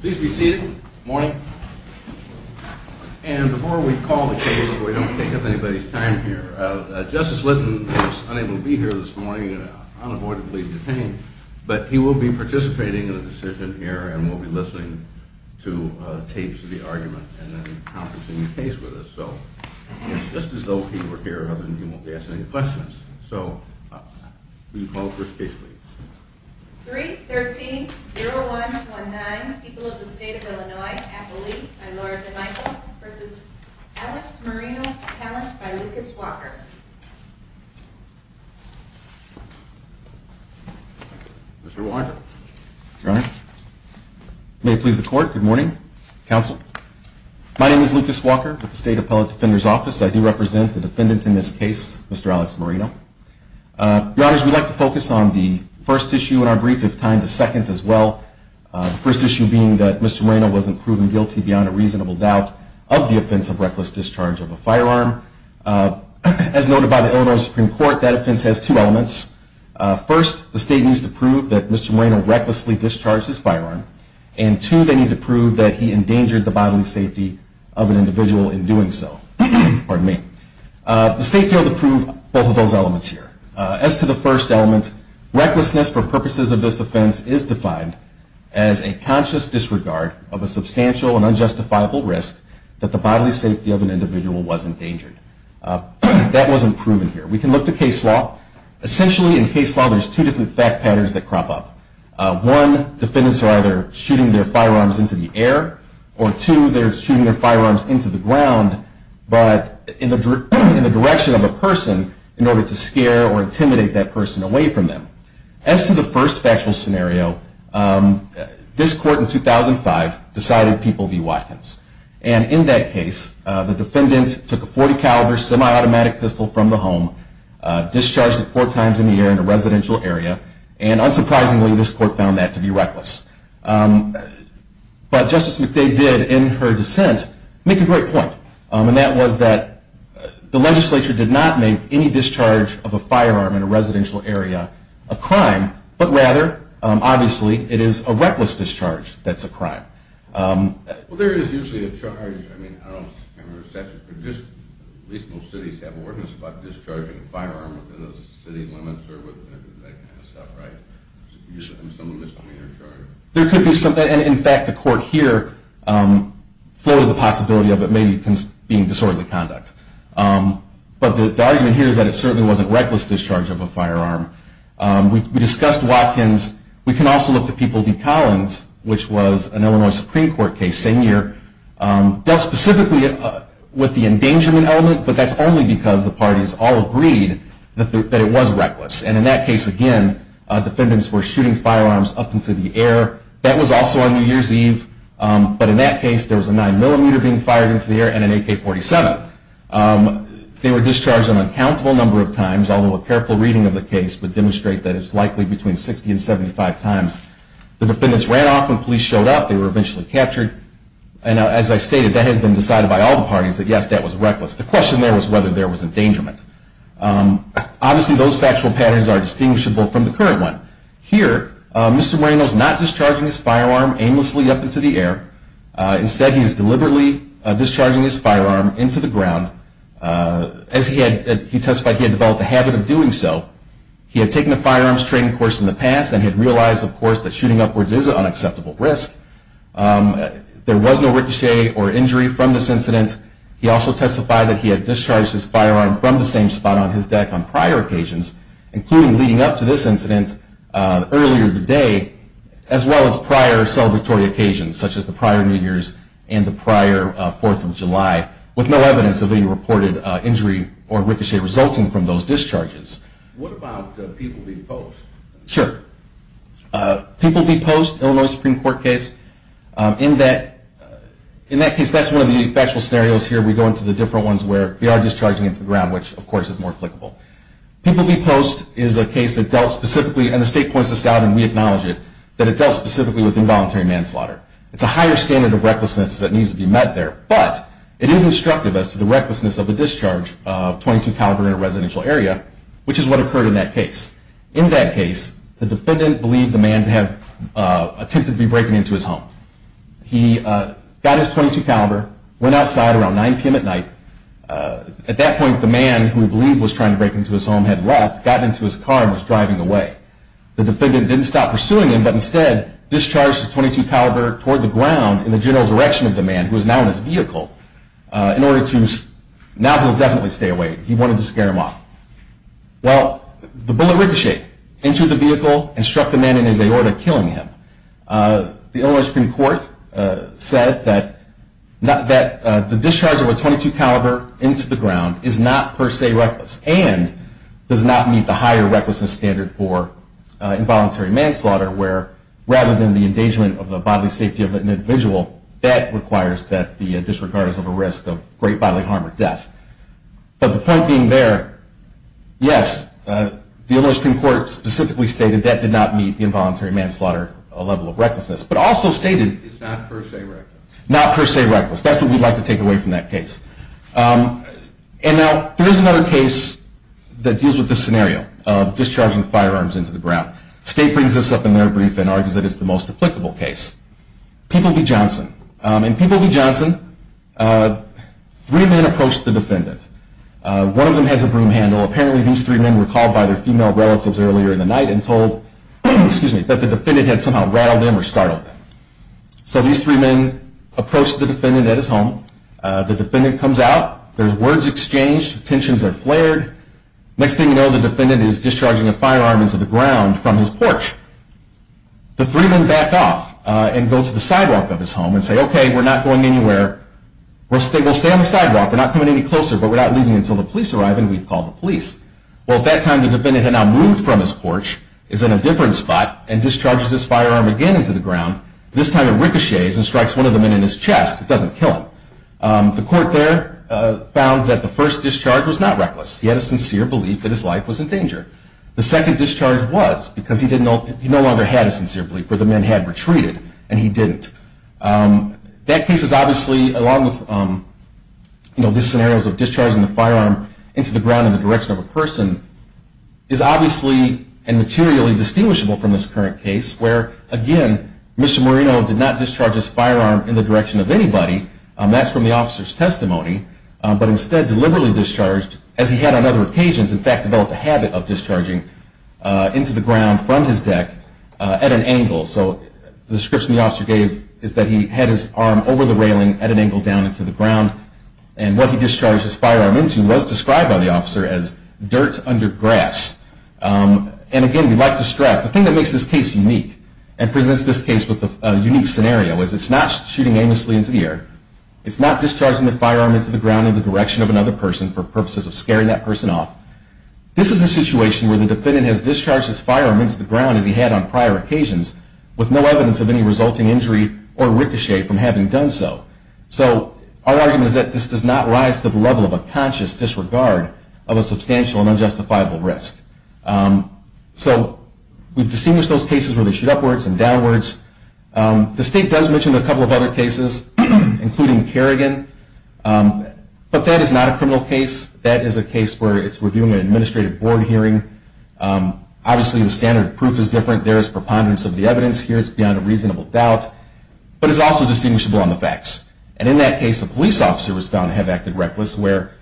Please be seated. Morning. And before we call the case, before we don't take up anybody's time here, Justice Lytton was unable to be here this morning, unavoidably detained, but he will be participating in the decision here and will be listening to tapes of the argument and then conferencing the case with us. So, just as though he were here, other than he won't be asking any questions. So, will you call the first case please? 3-13-0-1-1-9 People of the State of Illinois Appellee by Laura DeMichele v. Alex Moreno Appellate by Lucas Walker Mr. Walker. Your Honor. May it please the court. Good morning, counsel. My name is Lucas Walker with the State Appellate Defender's Office. I do represent the defendant in this case, Mr. Alex Moreno. Your Honors, we'd like to focus on the first issue in our brief, if time to second as well. The first issue being that Mr. Moreno wasn't proven guilty beyond a reasonable doubt of the offense of reckless discharge of a firearm. As noted by the Illinois Supreme Court, that offense has two elements. First, the state needs to prove that Mr. Moreno recklessly discharged his firearm. And two, they need to prove that he endangered the bodily safety of an individual in doing so. The state failed to prove both of those elements here. As to the first element, recklessness for purposes of this offense is defined as a conscious disregard of a substantial and unjustifiable risk that the bodily safety of an individual was endangered. That wasn't proven here. We can look to case law. Essentially, in case law, there's two different fact patterns that crop up. One, defendants are either shooting their firearms into the air, or two, they're shooting their firearms into the ground, but in the direction of a person in order to scare or intimidate that person away from them. As to the first factual scenario, this court in 2005 decided people be Watkins. And in that case, the defendant took a .40 caliber semi-automatic pistol from the home, discharged it four times in the air in a residential area, and unsurprisingly, this court found that to be reckless. But Justice McDade did, in her dissent, make a great point, and that was that the legislature did not make any discharge of a firearm in a residential area a crime, but rather, obviously, it is a reckless discharge that's a crime. Well, there is usually a charge, I mean, I don't remember the statute, but at least most cities have ordinances about discharging a firearm within the city limits or that kind of stuff, right? There could be some, and in fact, the court here floated the possibility of it maybe being disorderly conduct. But the argument here is that it certainly wasn't a reckless discharge of a firearm. We discussed Watkins. We can also look to People v. Collins, which was an Illinois Supreme Court case, same year. It dealt specifically with the endangerment element, but that's only because the parties all agreed that it was reckless. And in that case, again, defendants were shooting firearms up into the air. That was also on New Year's Eve. But in that case, there was a 9mm being fired into the air and an AK-47. They were discharged an uncountable number of times, although a careful reading of the case would demonstrate that it's likely between 60 and 75 times. The defendants ran off when police showed up. They were eventually captured. And as I stated, that had been decided by all the parties that yes, that was reckless. The question there was whether there was endangerment. Obviously, those factual patterns are distinguishable from the current one. Here, Mr. Moreno is not discharging his firearm aimlessly up into the air. Instead, he is deliberately discharging his firearm into the ground. As he testified, he had developed a habit of doing so. He had taken a firearms training course in the past and had realized, of course, that shooting upwards is an unacceptable risk. There was no ricochet or injury from this incident. He also testified that he had discharged his firearm from the same spot on his deck on prior occasions, including leading up to this incident earlier today, as well as prior celebratory occasions, such as the prior New Year's and the prior 4th of July, with no evidence of any reported injury or ricochet resulting from those discharges. What about People v. Post? Sure. People v. Post, Illinois Supreme Court case, in that case, that's one of the factual scenarios here. We go into the different ones where they are discharging into the ground, which, of course, is more applicable. People v. Post is a case that dealt specifically, and the state points this out and we acknowledge it, that it dealt specifically with involuntary manslaughter. It's a higher standard of recklessness that needs to be met there. But it is instructive as to the recklessness of a discharge of .22 caliber in a residential area, which is what occurred in that case. In that case, the defendant believed the man to have attempted to be breaking into his home. He got his .22 caliber, went outside around 9 p.m. at night. At that point, the man who he believed was trying to break into his home had left, got into his car, and was driving away. The defendant didn't stop pursuing him, but instead discharged his .22 caliber toward the ground in the general direction of the man, who was now in his vehicle, in order to – now he'll definitely stay away. He wanted to scare him off. Well, the bullet ricocheted into the vehicle and struck the man in his aorta, killing him. The Illinois Supreme Court said that the discharge of a .22 caliber into the ground is not per se reckless and does not meet the higher recklessness standard for involuntary manslaughter, where rather than the endangerment of the bodily safety of an individual, that requires that the district guard is at risk of great bodily harm or death. But the point being there, yes, the Illinois Supreme Court specifically stated that did not meet the involuntary manslaughter level of recklessness, but also stated it's not per se reckless. That's what we'd like to take away from that case. And now, here's another case that deals with this scenario of discharging firearms into the ground. State brings this up in their brief and argues that it's the most applicable case. People v. Johnson. In People v. Johnson, three men approached the defendant. One of them has a broom handle. Apparently, these three men were called by their female relatives earlier in the night and told that the defendant had somehow rattled them or startled them. So these three men approached the defendant at his home. The defendant comes out. There's words exchanged. Tensions are flared. Next thing you know, the defendant is discharging a firearm into the ground from his porch. The three men back off and go to the sidewalk of his home and say, Okay, we're not going anywhere. We'll stay on the sidewalk. We're not coming any closer, but we're not leaving until the police arrive, and we've called the police. Well, at that time, the defendant had now moved from his porch, is in a different spot, and discharges his firearm again into the ground. This time it ricochets and strikes one of them in his chest. It doesn't kill him. The court there found that the first discharge was not reckless. He had a sincere belief that his life was in danger. The second discharge was because he no longer had a sincere belief, for the men had retreated, and he didn't. That case is obviously, along with these scenarios of discharging the firearm into the ground in the direction of a person, is obviously and materially distinguishable from this current case, where, again, Mr. Moreno did not discharge his firearm in the direction of anybody. That's from the officer's testimony, but instead deliberately discharged, as he had on other occasions, in fact, developed a habit of discharging into the ground from his deck at an angle. So the description the officer gave is that he had his arm over the railing at an angle down into the ground, and what he discharged his firearm into was described by the officer as dirt under grass. And again, we'd like to stress, the thing that makes this case unique and presents this case with a unique scenario is it's not shooting aimlessly into the air. It's not discharging the firearm into the ground in the direction of another person for purposes of scaring that person off. This is a situation where the defendant has discharged his firearm into the ground, as he had on prior occasions, with no evidence of any resulting injury or ricochet from having done so. So our argument is that this does not rise to the level of a conscious disregard of a substantial and unjustifiable risk. So we've distinguished those cases where they shoot upwards and downwards. The State does mention a couple of other cases, including Kerrigan, but that is not a criminal case. That is a case where it's reviewing an administrative board hearing. Obviously, the standard proof is different. There is preponderance of the evidence here. It's beyond a reasonable doubt, but it's also distinguishable on the facts. And in that case, a police officer was found to have acted reckless, where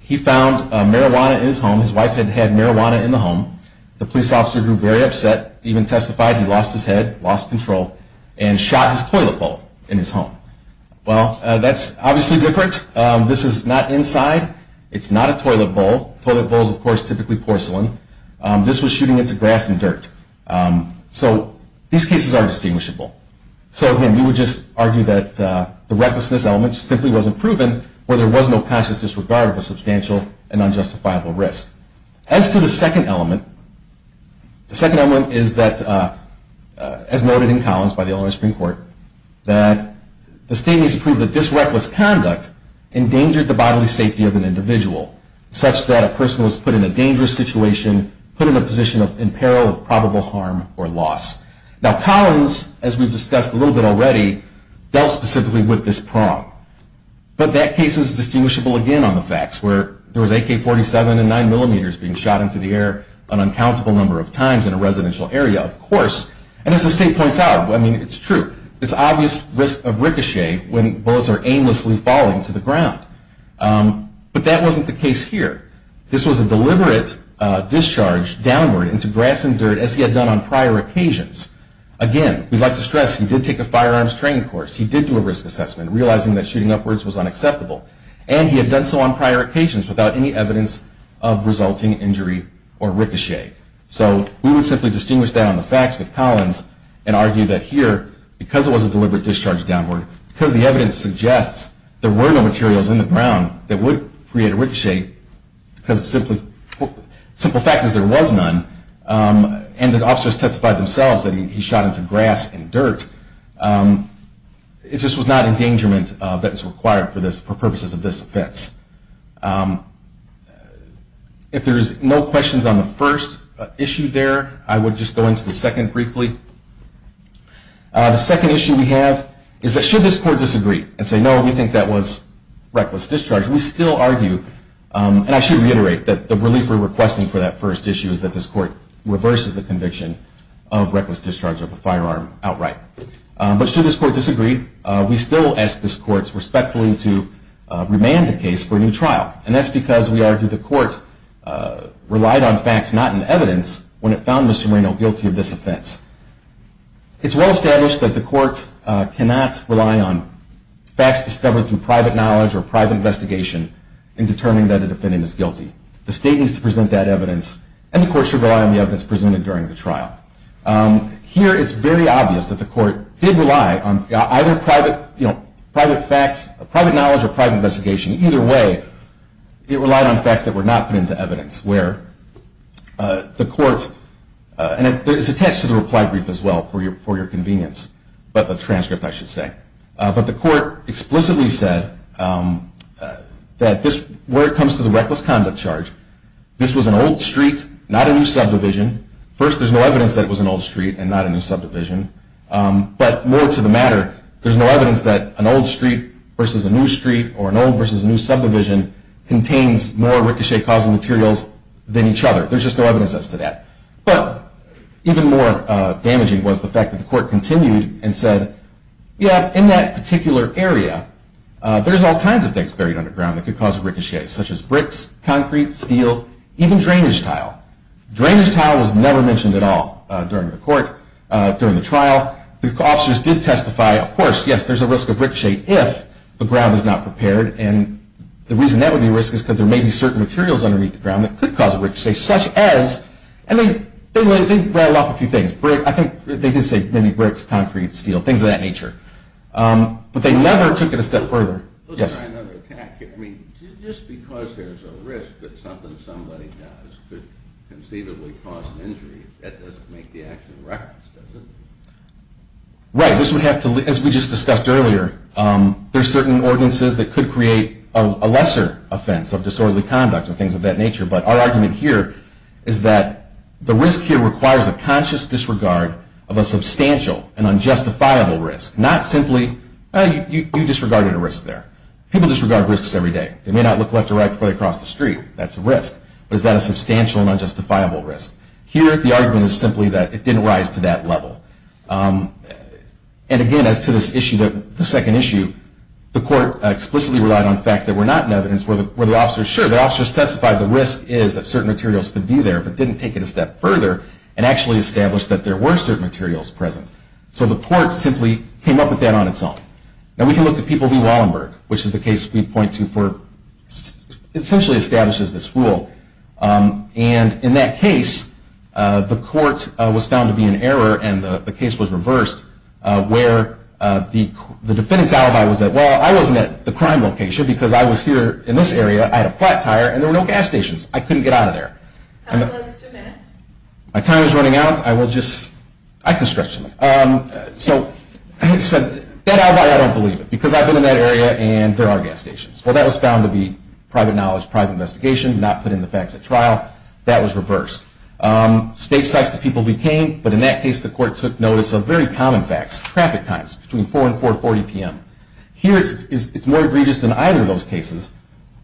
he found marijuana in his home. His wife had had marijuana in the home. The police officer grew very upset, even testified he lost his head, lost control, and shot his toilet bowl in his home. Well, that's obviously different. This is not inside. It's not a toilet bowl. Toilet bowls, of course, are typically porcelain. This was shooting into grass and dirt. So these cases are distinguishable. So, again, we would just argue that the recklessness element simply wasn't proven, where there was no conscious disregard of a substantial and unjustifiable risk. As to the second element, the second element is that, as noted in Collins by the Illinois Supreme Court, that the State needs to prove that this reckless conduct endangered the bodily safety of an individual, such that a person was put in a dangerous situation, put in a position in peril of probable harm or loss. Now, Collins, as we've discussed a little bit already, dealt specifically with this problem. But that case is distinguishable, again, on the facts, where there was AK-47 and 9mm being shot into the air an uncountable number of times in a residential area. Of course, and as the State points out, I mean, it's true, it's obvious risk of ricochet when bullets are aimlessly falling to the ground. But that wasn't the case here. This was a deliberate discharge downward into grass and dirt, as he had done on prior occasions. Again, we'd like to stress he did take a firearms training course. He did do a risk assessment, realizing that shooting upwards was unacceptable. And he had done so on prior occasions without any evidence of resulting injury or ricochet. So we would simply distinguish that on the facts with Collins and argue that here, because it was a deliberate discharge downward, because the evidence suggests there were no materials in the ground that would create a ricochet, because simple fact is there was none, and the officers testified themselves that he shot into grass and dirt. It just was not endangerment that is required for purposes of this offense. If there is no questions on the first issue there, I would just go into the second briefly. The second issue we have is that should this court disagree and say, no, we think that was reckless discharge, we still argue, and I should reiterate that the relief we're requesting for that first issue is that this court reverses the conviction of reckless discharge of a firearm outright. But should this court disagree, we still ask this court respectfully to remand the case for a new trial. And that's because we argue the court relied on facts, not on evidence, when it found Mr. Moreno guilty of this offense. It's well established that the court cannot rely on facts discovered through private knowledge or private investigation in determining that a defendant is guilty. The state needs to present that evidence, and the court should rely on the evidence presented during the trial. Here, it's very obvious that the court did rely on either private facts, private knowledge, or private investigation. Either way, it relied on facts that were not put into evidence, where the court, and it's attached to the reply brief as well for your convenience, but the transcript, I should say. But the court explicitly said that where it comes to the reckless conduct charge, this was an old street, not a new subdivision. First, there's no evidence that it was an old street and not a new subdivision. But more to the matter, there's no evidence that an old street versus a new street or an old versus a new subdivision contains more ricochet-causing materials than each other. There's just no evidence as to that. But even more damaging was the fact that the court continued and said, yeah, in that particular area, there's all kinds of things buried underground that could cause a ricochet, such as bricks, concrete, steel, even drainage tile. Drainage tile was never mentioned at all during the trial. The officers did testify, of course, yes, there's a risk of ricochet if the ground is not prepared. And the reason that would be a risk is because there may be certain materials underneath the ground that could cause a ricochet, such as, and they riled off a few things. I think they did say maybe bricks, concrete, steel, things of that nature. But they never took it a step further. Let's try another attack here. I mean, just because there's a risk that something somebody does could conceivably cause an injury, that doesn't make the action reckless, does it? Right. This would have to, as we just discussed earlier, there's certain ordinances that could create a lesser offense of disorderly conduct or things of that nature. But our argument here is that the risk here requires a conscious disregard of a substantial and unjustifiable risk, not simply, you disregarded a risk there. People disregard risks every day. They may not look left or right before they cross the street. That's a risk. But is that a substantial and unjustifiable risk? Here, the argument is simply that it didn't rise to that level. And again, as to this issue, the second issue, the court explicitly relied on facts that were not in evidence, where the officers testified the risk is that certain materials could be there but didn't take it a step further and actually established that there were certain materials present. So the court simply came up with that on its own. And we can look to people who Wallenberg, which is the case we point to for essentially establishes this rule. And in that case, the court was found to be in error and the case was reversed where the defendant's alibi was that, well, I wasn't at the crime location because I was here in this area. I had a flat tire and there were no gas stations. I couldn't get out of there. Counsel has two minutes. My time is running out. I will just, I can stretch a minute. So he said, that alibi, I don't believe it because I've been in that area and there are gas stations. Well, that was found to be private knowledge, private investigation, not put in the facts at trial. That was reversed. State sites to people became, but in that case the court took notice of very common facts, traffic times between 4 and 4.40 p.m. Here it's more egregious than either of those cases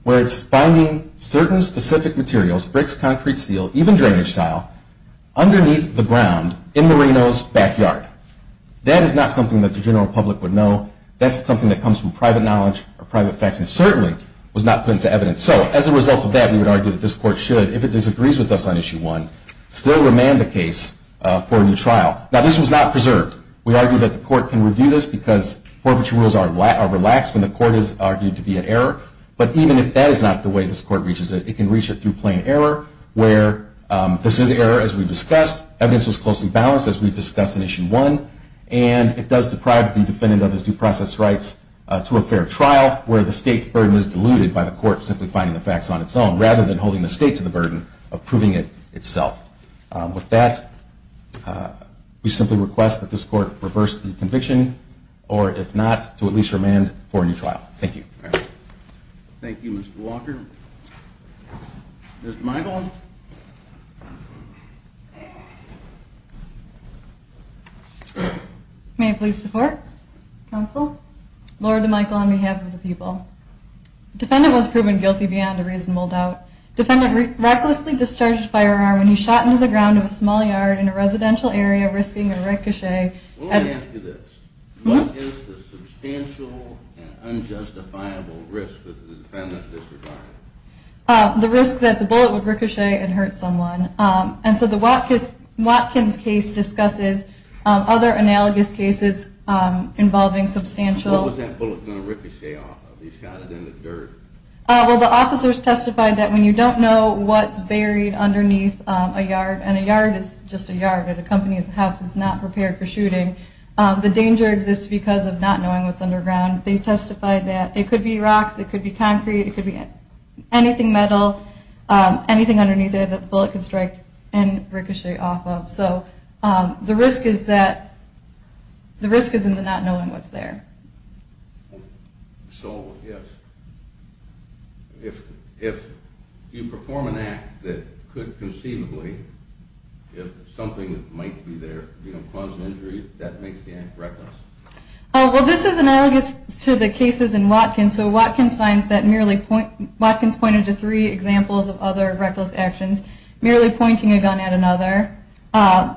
where it's finding certain specific materials, bricks, concrete, steel, even drainage tile underneath the ground in Marino's backyard. That is not something that the general public would know. That's something that comes from private knowledge or private facts and certainly was not put into evidence. So as a result of that, we would argue that this court should, if it disagrees with us on Issue 1, still remand the case for a new trial. Now, this was not preserved. We argue that the court can review this because forfeiture rules are relaxed when the court is argued to be at error, but even if that is not the way this court reaches it, it can reach it through plain error where this is error as we discussed, evidence was closely balanced as we discussed in Issue 1, and it does deprive the defendant of his due process rights to a fair trial where the state's burden is diluted by the court simply finding the facts on its own rather than holding the state to the burden of proving it itself. With that, we simply request that this court reverse the conviction or, if not, to at least remand for a new trial. Thank you. Thank you, Mr. Walker. Ms. DeMichel. May I please support, counsel? Lord DeMichel, on behalf of the people. Defendant was proven guilty beyond a reasonable doubt. Defendant recklessly discharged a firearm when he shot into the ground of a small yard in a residential area, risking a ricochet. Let me ask you this. What is the substantial and unjustifiable risk that the defendant is surviving? The risk that the bullet would ricochet and hurt someone. And so the Watkins case discusses other analogous cases involving substantial. What was that bullet going to ricochet off of? He shot it in the dirt. Well, the officers testified that when you don't know what's buried underneath a yard, and a yard is just a yard, it accompanies a house, it's not prepared for shooting, the danger exists because of not knowing what's underground. They testified that it could be rocks, it could be concrete, it could be anything metal, anything underneath there that the bullet could strike and ricochet off of. So the risk is in the not knowing what's there. So if you perform an act that could conceivably, if something might be there, cause an injury, that makes the act reckless? Well, this is analogous to the cases in Watkins. And so Watkins finds that merely, Watkins pointed to three examples of other reckless actions. Merely pointing a gun at another,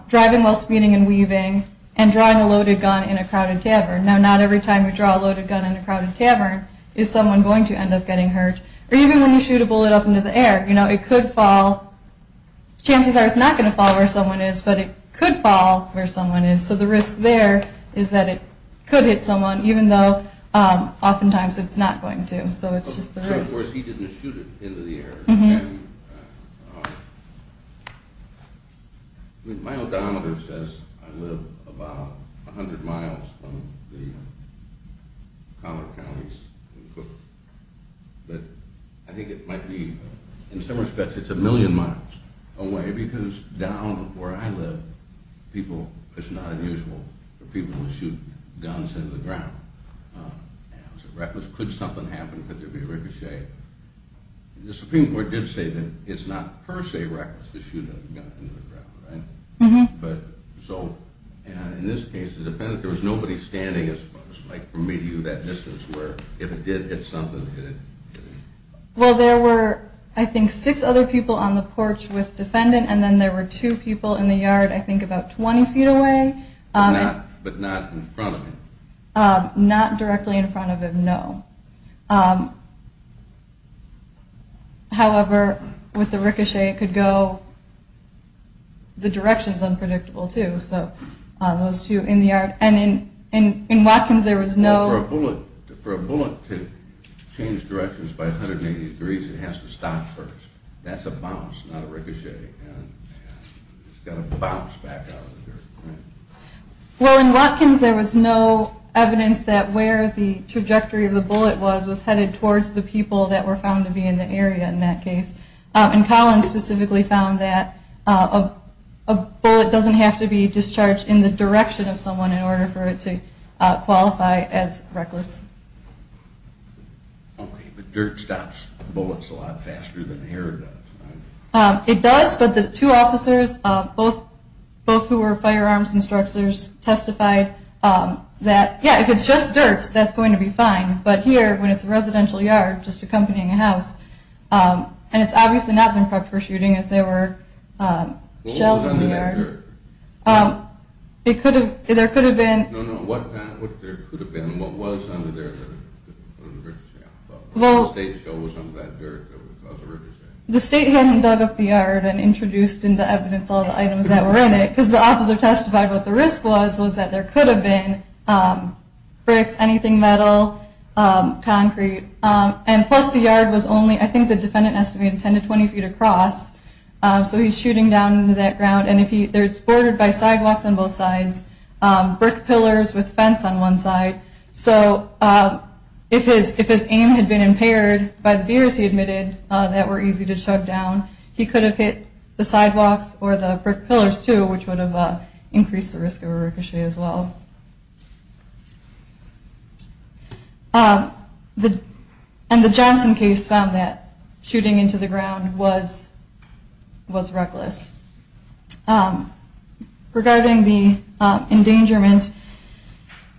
driving while speeding and weaving, and drawing a loaded gun in a crowded tavern. Now, not every time you draw a loaded gun in a crowded tavern is someone going to end up getting hurt. Or even when you shoot a bullet up into the air, you know, it could fall. Chances are it's not going to fall where someone is, but it could fall where someone is. So the risk there is that it could hit someone, even though oftentimes it's not going to. So it's just the risk. Of course, he didn't shoot it into the air. My odometer says I live about 100 miles from the collar counties in Cook. But I think it might be, in some respects, it's a million miles away, because down where I live, people, it's not unusual for people to shoot guns into the ground. It's reckless. Could something happen? Could there be a ricochet? The Supreme Court did say that it's not per se reckless to shoot a gun into the ground, right? But so in this case, the defendant, there was nobody standing as close, like from me to you, that distance, where if it did hit something, it hit it. Well, there were, I think, six other people on the porch with defendant, and then there were two people in the yard, I think, about 20 feet away. But not in front of him. Not directly in front of him, no. However, with the ricochet, it could go the directions, unpredictable, too. So those two in the yard. And in Watkins, there was no – For a bullet to change directions by 180 degrees, it has to stop first. That's a bounce, not a ricochet. It's got to bounce back out of the dirt. Well, in Watkins, there was no evidence that where the trajectory of the bullet was was headed towards the people that were found to be in the area in that case. And Collins specifically found that a bullet doesn't have to be discharged in the direction of someone in order for it to qualify as reckless. Okay, but dirt stops bullets a lot faster than hair does, right? It does, but the two officers, both who were firearms instructors, testified that, yeah, if it's just dirt, that's going to be fine. But here, when it's a residential yard, just accompanying a house, and it's obviously not been prepped for shooting as there were shells in the yard. What was under that dirt? It could have – there could have been – No, no, what there could have been, what was under there? The state shows under that dirt that was a ricochet. The state hadn't dug up the yard and introduced into evidence all the items that were in it because the officer testified what the risk was was that there could have been bricks, anything metal, concrete. And plus the yard was only – I think the defendant estimated 10 to 20 feet across, so he's shooting down into that ground. And if he – it's bordered by sidewalks on both sides, brick pillars with fence on one side. So if his aim had been impaired by the beers he admitted that were easy to chug down, he could have hit the sidewalks or the brick pillars too, which would have increased the risk of a ricochet as well. And the Johnson case found that shooting into the ground was reckless. Regarding the endangerment,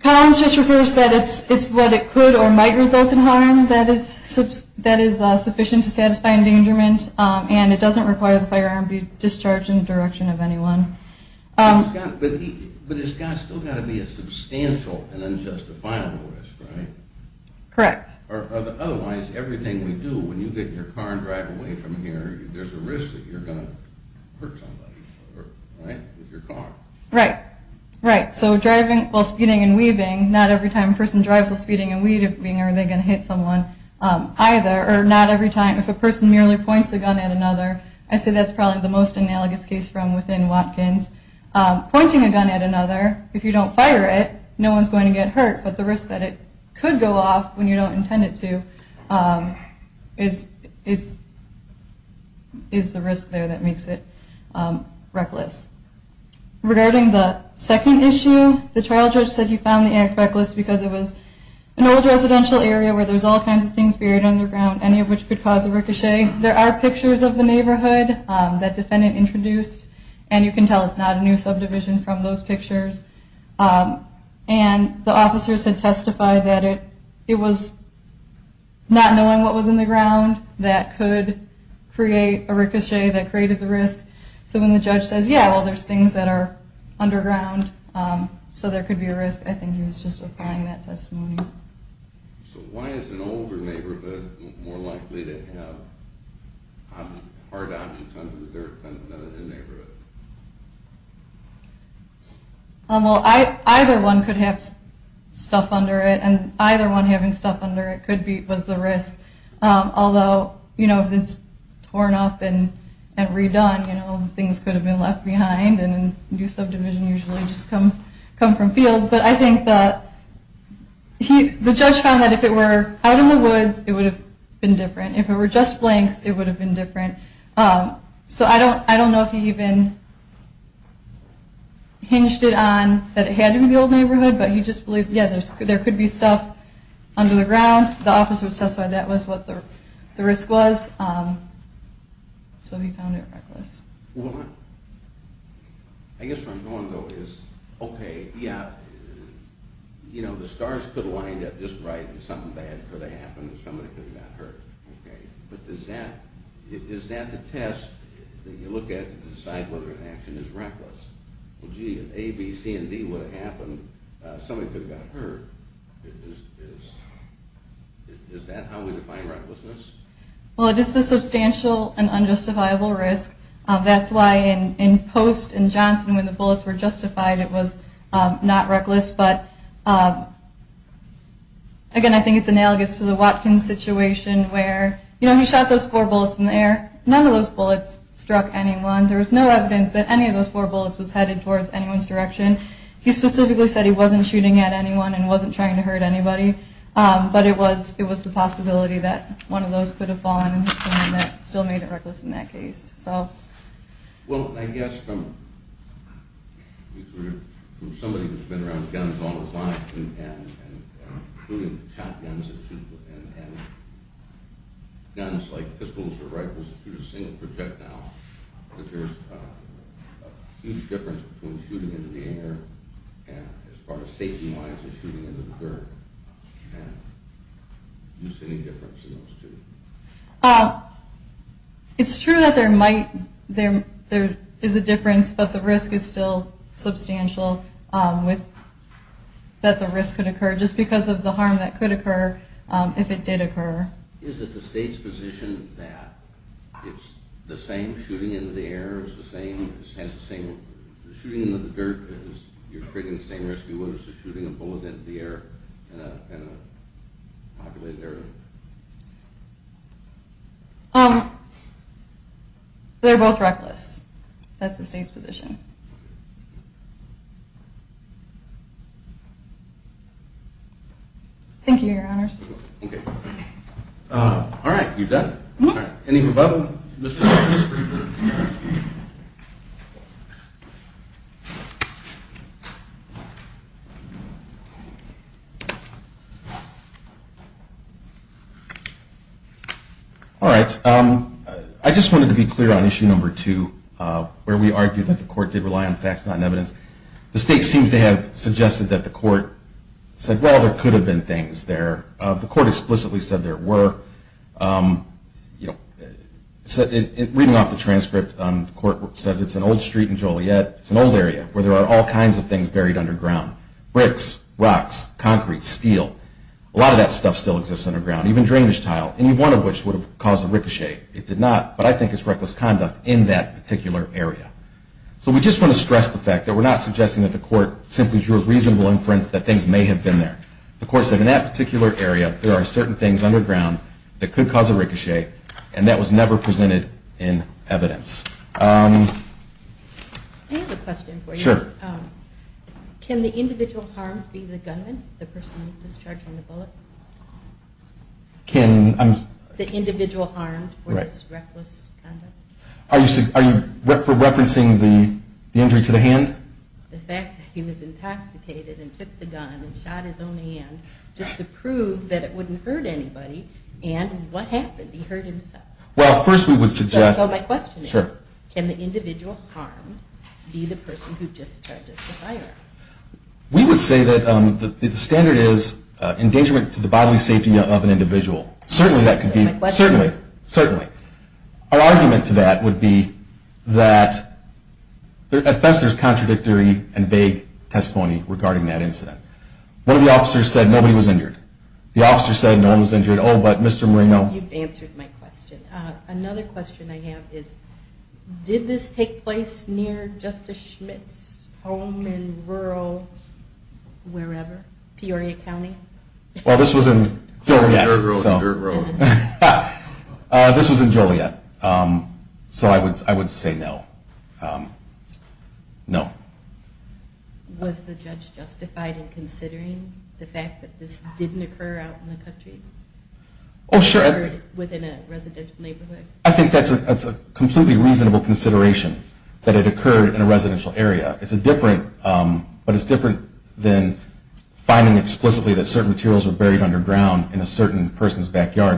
Collins just refers to that it's what it could or might result in harm that is sufficient to satisfy endangerment, and it doesn't require the firearm to be discharged in the direction of anyone. But it's still got to be a substantial and unjustifiable risk, right? Correct. Otherwise, everything we do, when you get in your car and drive away from here, there's a risk that you're going to hurt somebody, right, with your car. Right, right. So driving while speeding and weaving, not every time a person drives while speeding and weaving are they going to hit someone either, or not every time if a person merely points a gun at another. I'd say that's probably the most analogous case from within Watkins. Pointing a gun at another, if you don't fire it, no one's going to get hurt, but the risk that it could go off when you don't intend it to is the risk there that makes it reckless. Regarding the second issue, the trial judge said he found the act reckless because it was an old residential area where there's all kinds of things buried underground, any of which could cause a ricochet. There are pictures of the neighborhood that defendant introduced, and you can tell it's not a new subdivision from those pictures. And the officers had testified that it was not knowing what was in the ground that could create a ricochet that created the risk. So when the judge says, yeah, well, there's things that are underground, so there could be a risk, I think he was just applying that testimony. So why is an older neighborhood more likely to have hard objects under the dirt than a new neighborhood? Well, either one could have stuff under it, and either one having stuff under it was the risk. Although, you know, if it's torn up and redone, you know, things could have been left behind, and new subdivisions usually just come from fields. But I think the judge found that if it were out in the woods, it would have been different. If it were just blanks, it would have been different. So I don't know if he even hinged it on that it had to be the old neighborhood, but he just believed, yeah, there could be stuff under the ground. The officers testified that was what the risk was, so he found it reckless. Well, I guess where I'm going, though, is, okay, yeah, you know, the stars could have lined up just right, and something bad could have happened, and somebody could have got hurt, okay? But is that the test that you look at to decide whether an action is reckless? Well, gee, if A, B, C, and D would have happened, somebody could have got hurt. Is that how we define recklessness? Well, it is the substantial and unjustifiable risk. That's why in Post and Johnson, when the bullets were justified, it was not reckless. But, again, I think it's analogous to the Watkins situation where, you know, he shot those four bullets in the air. None of those bullets struck anyone. There was no evidence that any of those four bullets was headed towards anyone's direction. He specifically said he wasn't shooting at anyone and wasn't trying to hurt anybody, but it was the possibility that one of those could have fallen, and that still made it reckless in that case. Well, I guess from somebody who's been around guns all his life, including shotguns, and guns like pistols or rifles that shoot a single projectile, that there's a huge difference between shooting into the air and, as far as safety-wise, shooting into the dirt. Do you see any difference in those two? It's true that there is a difference, but the risk is still substantial that the risk could occur, just because of the harm that could occur if it did occur. Is it the state's position that it's the same shooting into the air as the same shooting into the dirt, because you're creating the same risk you would as shooting a bullet into the air in a populated area? They're both reckless. That's the state's position. Thank you, Your Honors. All right. You've done it. Any further questions? All right. I just wanted to be clear on issue number two, where we argued that the court did rely on facts, not on evidence. The state seems to have suggested that the court said, well, there could have been things there. The court explicitly said there were. Reading off the transcript, the court says it's an old street in Joliet. It's an old area where there are all kinds of things buried underground, bricks, rocks, concrete, steel. A lot of that stuff still exists underground, even drainage tile, any one of which would have caused a ricochet. It did not, but I think it's reckless conduct in that particular area. So we just want to stress the fact that we're not suggesting that the court simply drew a reasonable inference that things may have been there. The court said in that particular area, there are certain things underground that could cause a ricochet, and that was never presented in evidence. I have a question for you. Sure. Can the individual harmed be the gunman, the person discharging the bullet? The individual harmed for this reckless conduct? Are you referencing the injury to the hand? The fact that he was intoxicated and took the gun and shot his own hand, just to prove that it wouldn't hurt anybody, and what happened? He hurt himself. Well, first we would suggest... So my question is, can the individual harmed be the person who just charges the firearm? We would say that the standard is endangerment to the bodily safety of an individual. Certainly that could be... So my question is... Certainly. Certainly. Our argument to that would be that at best there's contradictory and vague testimony regarding that incident. One of the officers said nobody was injured. The officer said no one was injured. Oh, but Mr. Moreno... You've answered my question. Another question I have is, did this take place near Justice Schmidt's home in rural wherever? Peoria County? Well, this was in Peoria. Dirt road to dirt road. This was in Joliet. So I would say no. No. Was the judge justified in considering the fact that this didn't occur out in the country? Oh, sure. It occurred within a residential neighborhood? I think that's a completely reasonable consideration, that it occurred in a residential area. It's a different...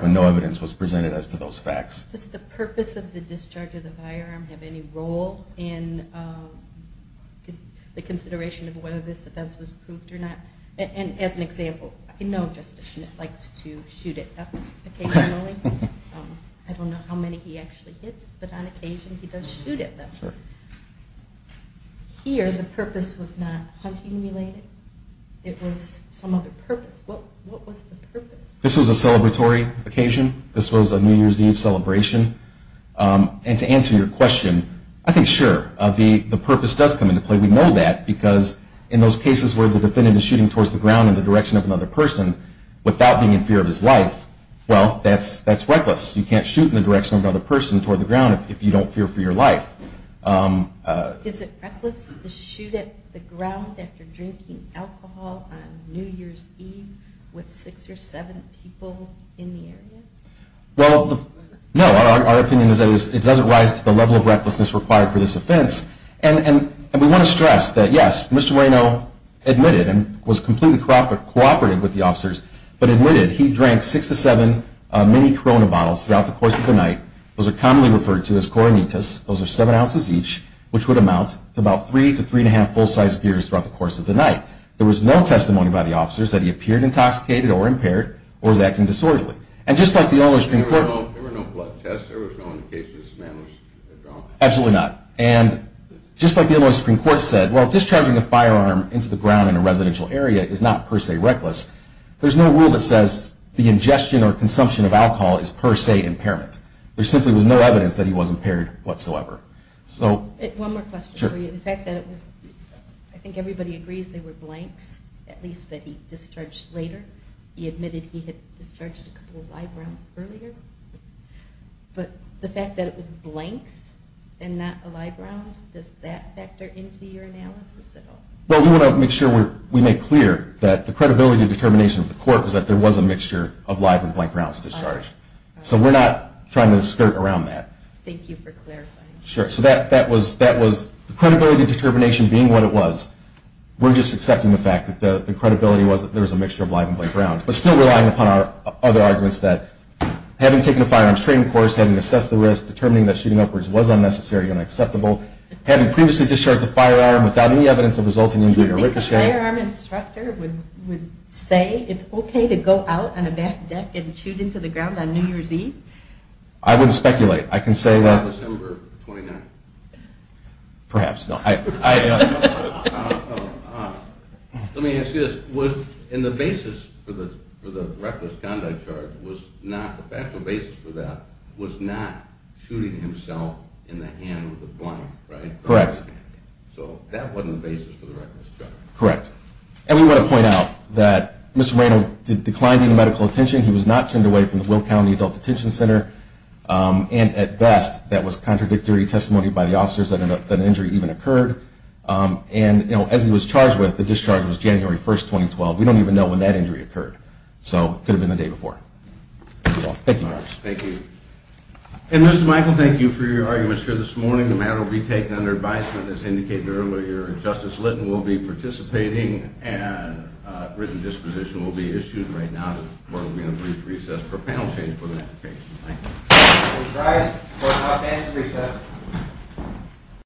when no evidence was presented as to those facts. Does the purpose of the discharge of the firearm have any role in the consideration of whether this event was proved or not? And as an example, I know Justice Schmidt likes to shoot at ducks occasionally. I don't know how many he actually hits, but on occasion he does shoot at them. Sure. Here the purpose was not hunting-related. It was some other purpose. What was the purpose? This was a celebratory occasion. This was a New Year's Eve celebration. And to answer your question, I think sure, the purpose does come into play. We know that because in those cases where the defendant is shooting towards the ground in the direction of another person without being in fear of his life, well, that's reckless. You can't shoot in the direction of another person toward the ground if you don't fear for your life. Is it reckless to shoot at the ground after drinking alcohol on New Year's Eve with six or seven people in the area? Well, no. Our opinion is that it doesn't rise to the level of recklessness required for this offense. And we want to stress that, yes, Mr. Reno admitted and was completely cooperative with the officers, but admitted he drank six to seven mini Corona bottles throughout the course of the night. Those are commonly referred to as Coronitas. Those are seven ounces each, which would amount to about three to three and a half full-sized beers throughout the course of the night. There was no testimony by the officers that he appeared intoxicated or impaired or was acting disorderly. And just like the Illinois Supreme Court – There were no blood tests. There was no indication this man was drunk. Absolutely not. And just like the Illinois Supreme Court said, well, discharging a firearm into the ground in a residential area is not per se reckless, there's no rule that says the ingestion or consumption of alcohol is per se impairment. There simply was no evidence that he was impaired whatsoever. So – One more question for you. Sure. The fact that it was – I think everybody agrees they were blanks, at least that he discharged later. He admitted he had discharged a couple of live rounds earlier. But the fact that it was blanks and not a live round, does that factor into your analysis at all? Well, we want to make sure we make clear that the credibility determination of the court was that there was a mixture of live and blank rounds discharged. So we're not trying to skirt around that. Thank you for clarifying. Sure. So that was – the credibility determination being what it was, we're just accepting the fact that the credibility was that there was a mixture of live and blank rounds. But still relying upon our other arguments that having taken a firearms training course, having assessed the risk, determining that shooting upwards was unnecessary and unacceptable, having previously discharged the firearm without any evidence of resulting injury or ricocheting – I wouldn't speculate. I can say that – December 29th. Perhaps, no. Let me ask you this. Was – and the basis for the reckless conduct charge was not – the factual basis for that was not shooting himself in the hand with a blank, right? Correct. So that wasn't the basis for the reckless charge. Correct. And we want to point out that Mr. Raynor declined any medical attention. He was not turned away from the Will County Adult Detention Center. And at best, that was contradictory testimony by the officers that an injury even occurred. And, you know, as he was charged with, the discharge was January 1st, 2012. We don't even know when that injury occurred. So it could have been the day before. So thank you very much. Thank you. And, Mr. Michael, thank you for your arguments here this morning. The matter will be taken under advisement, as indicated earlier. Justice Litton will be participating, and a written disposition will be issued right now. But we're going to brief recess for a panel change for the next case. Thank you. Thank you, Mr. Price. We'll have an outstanding recess.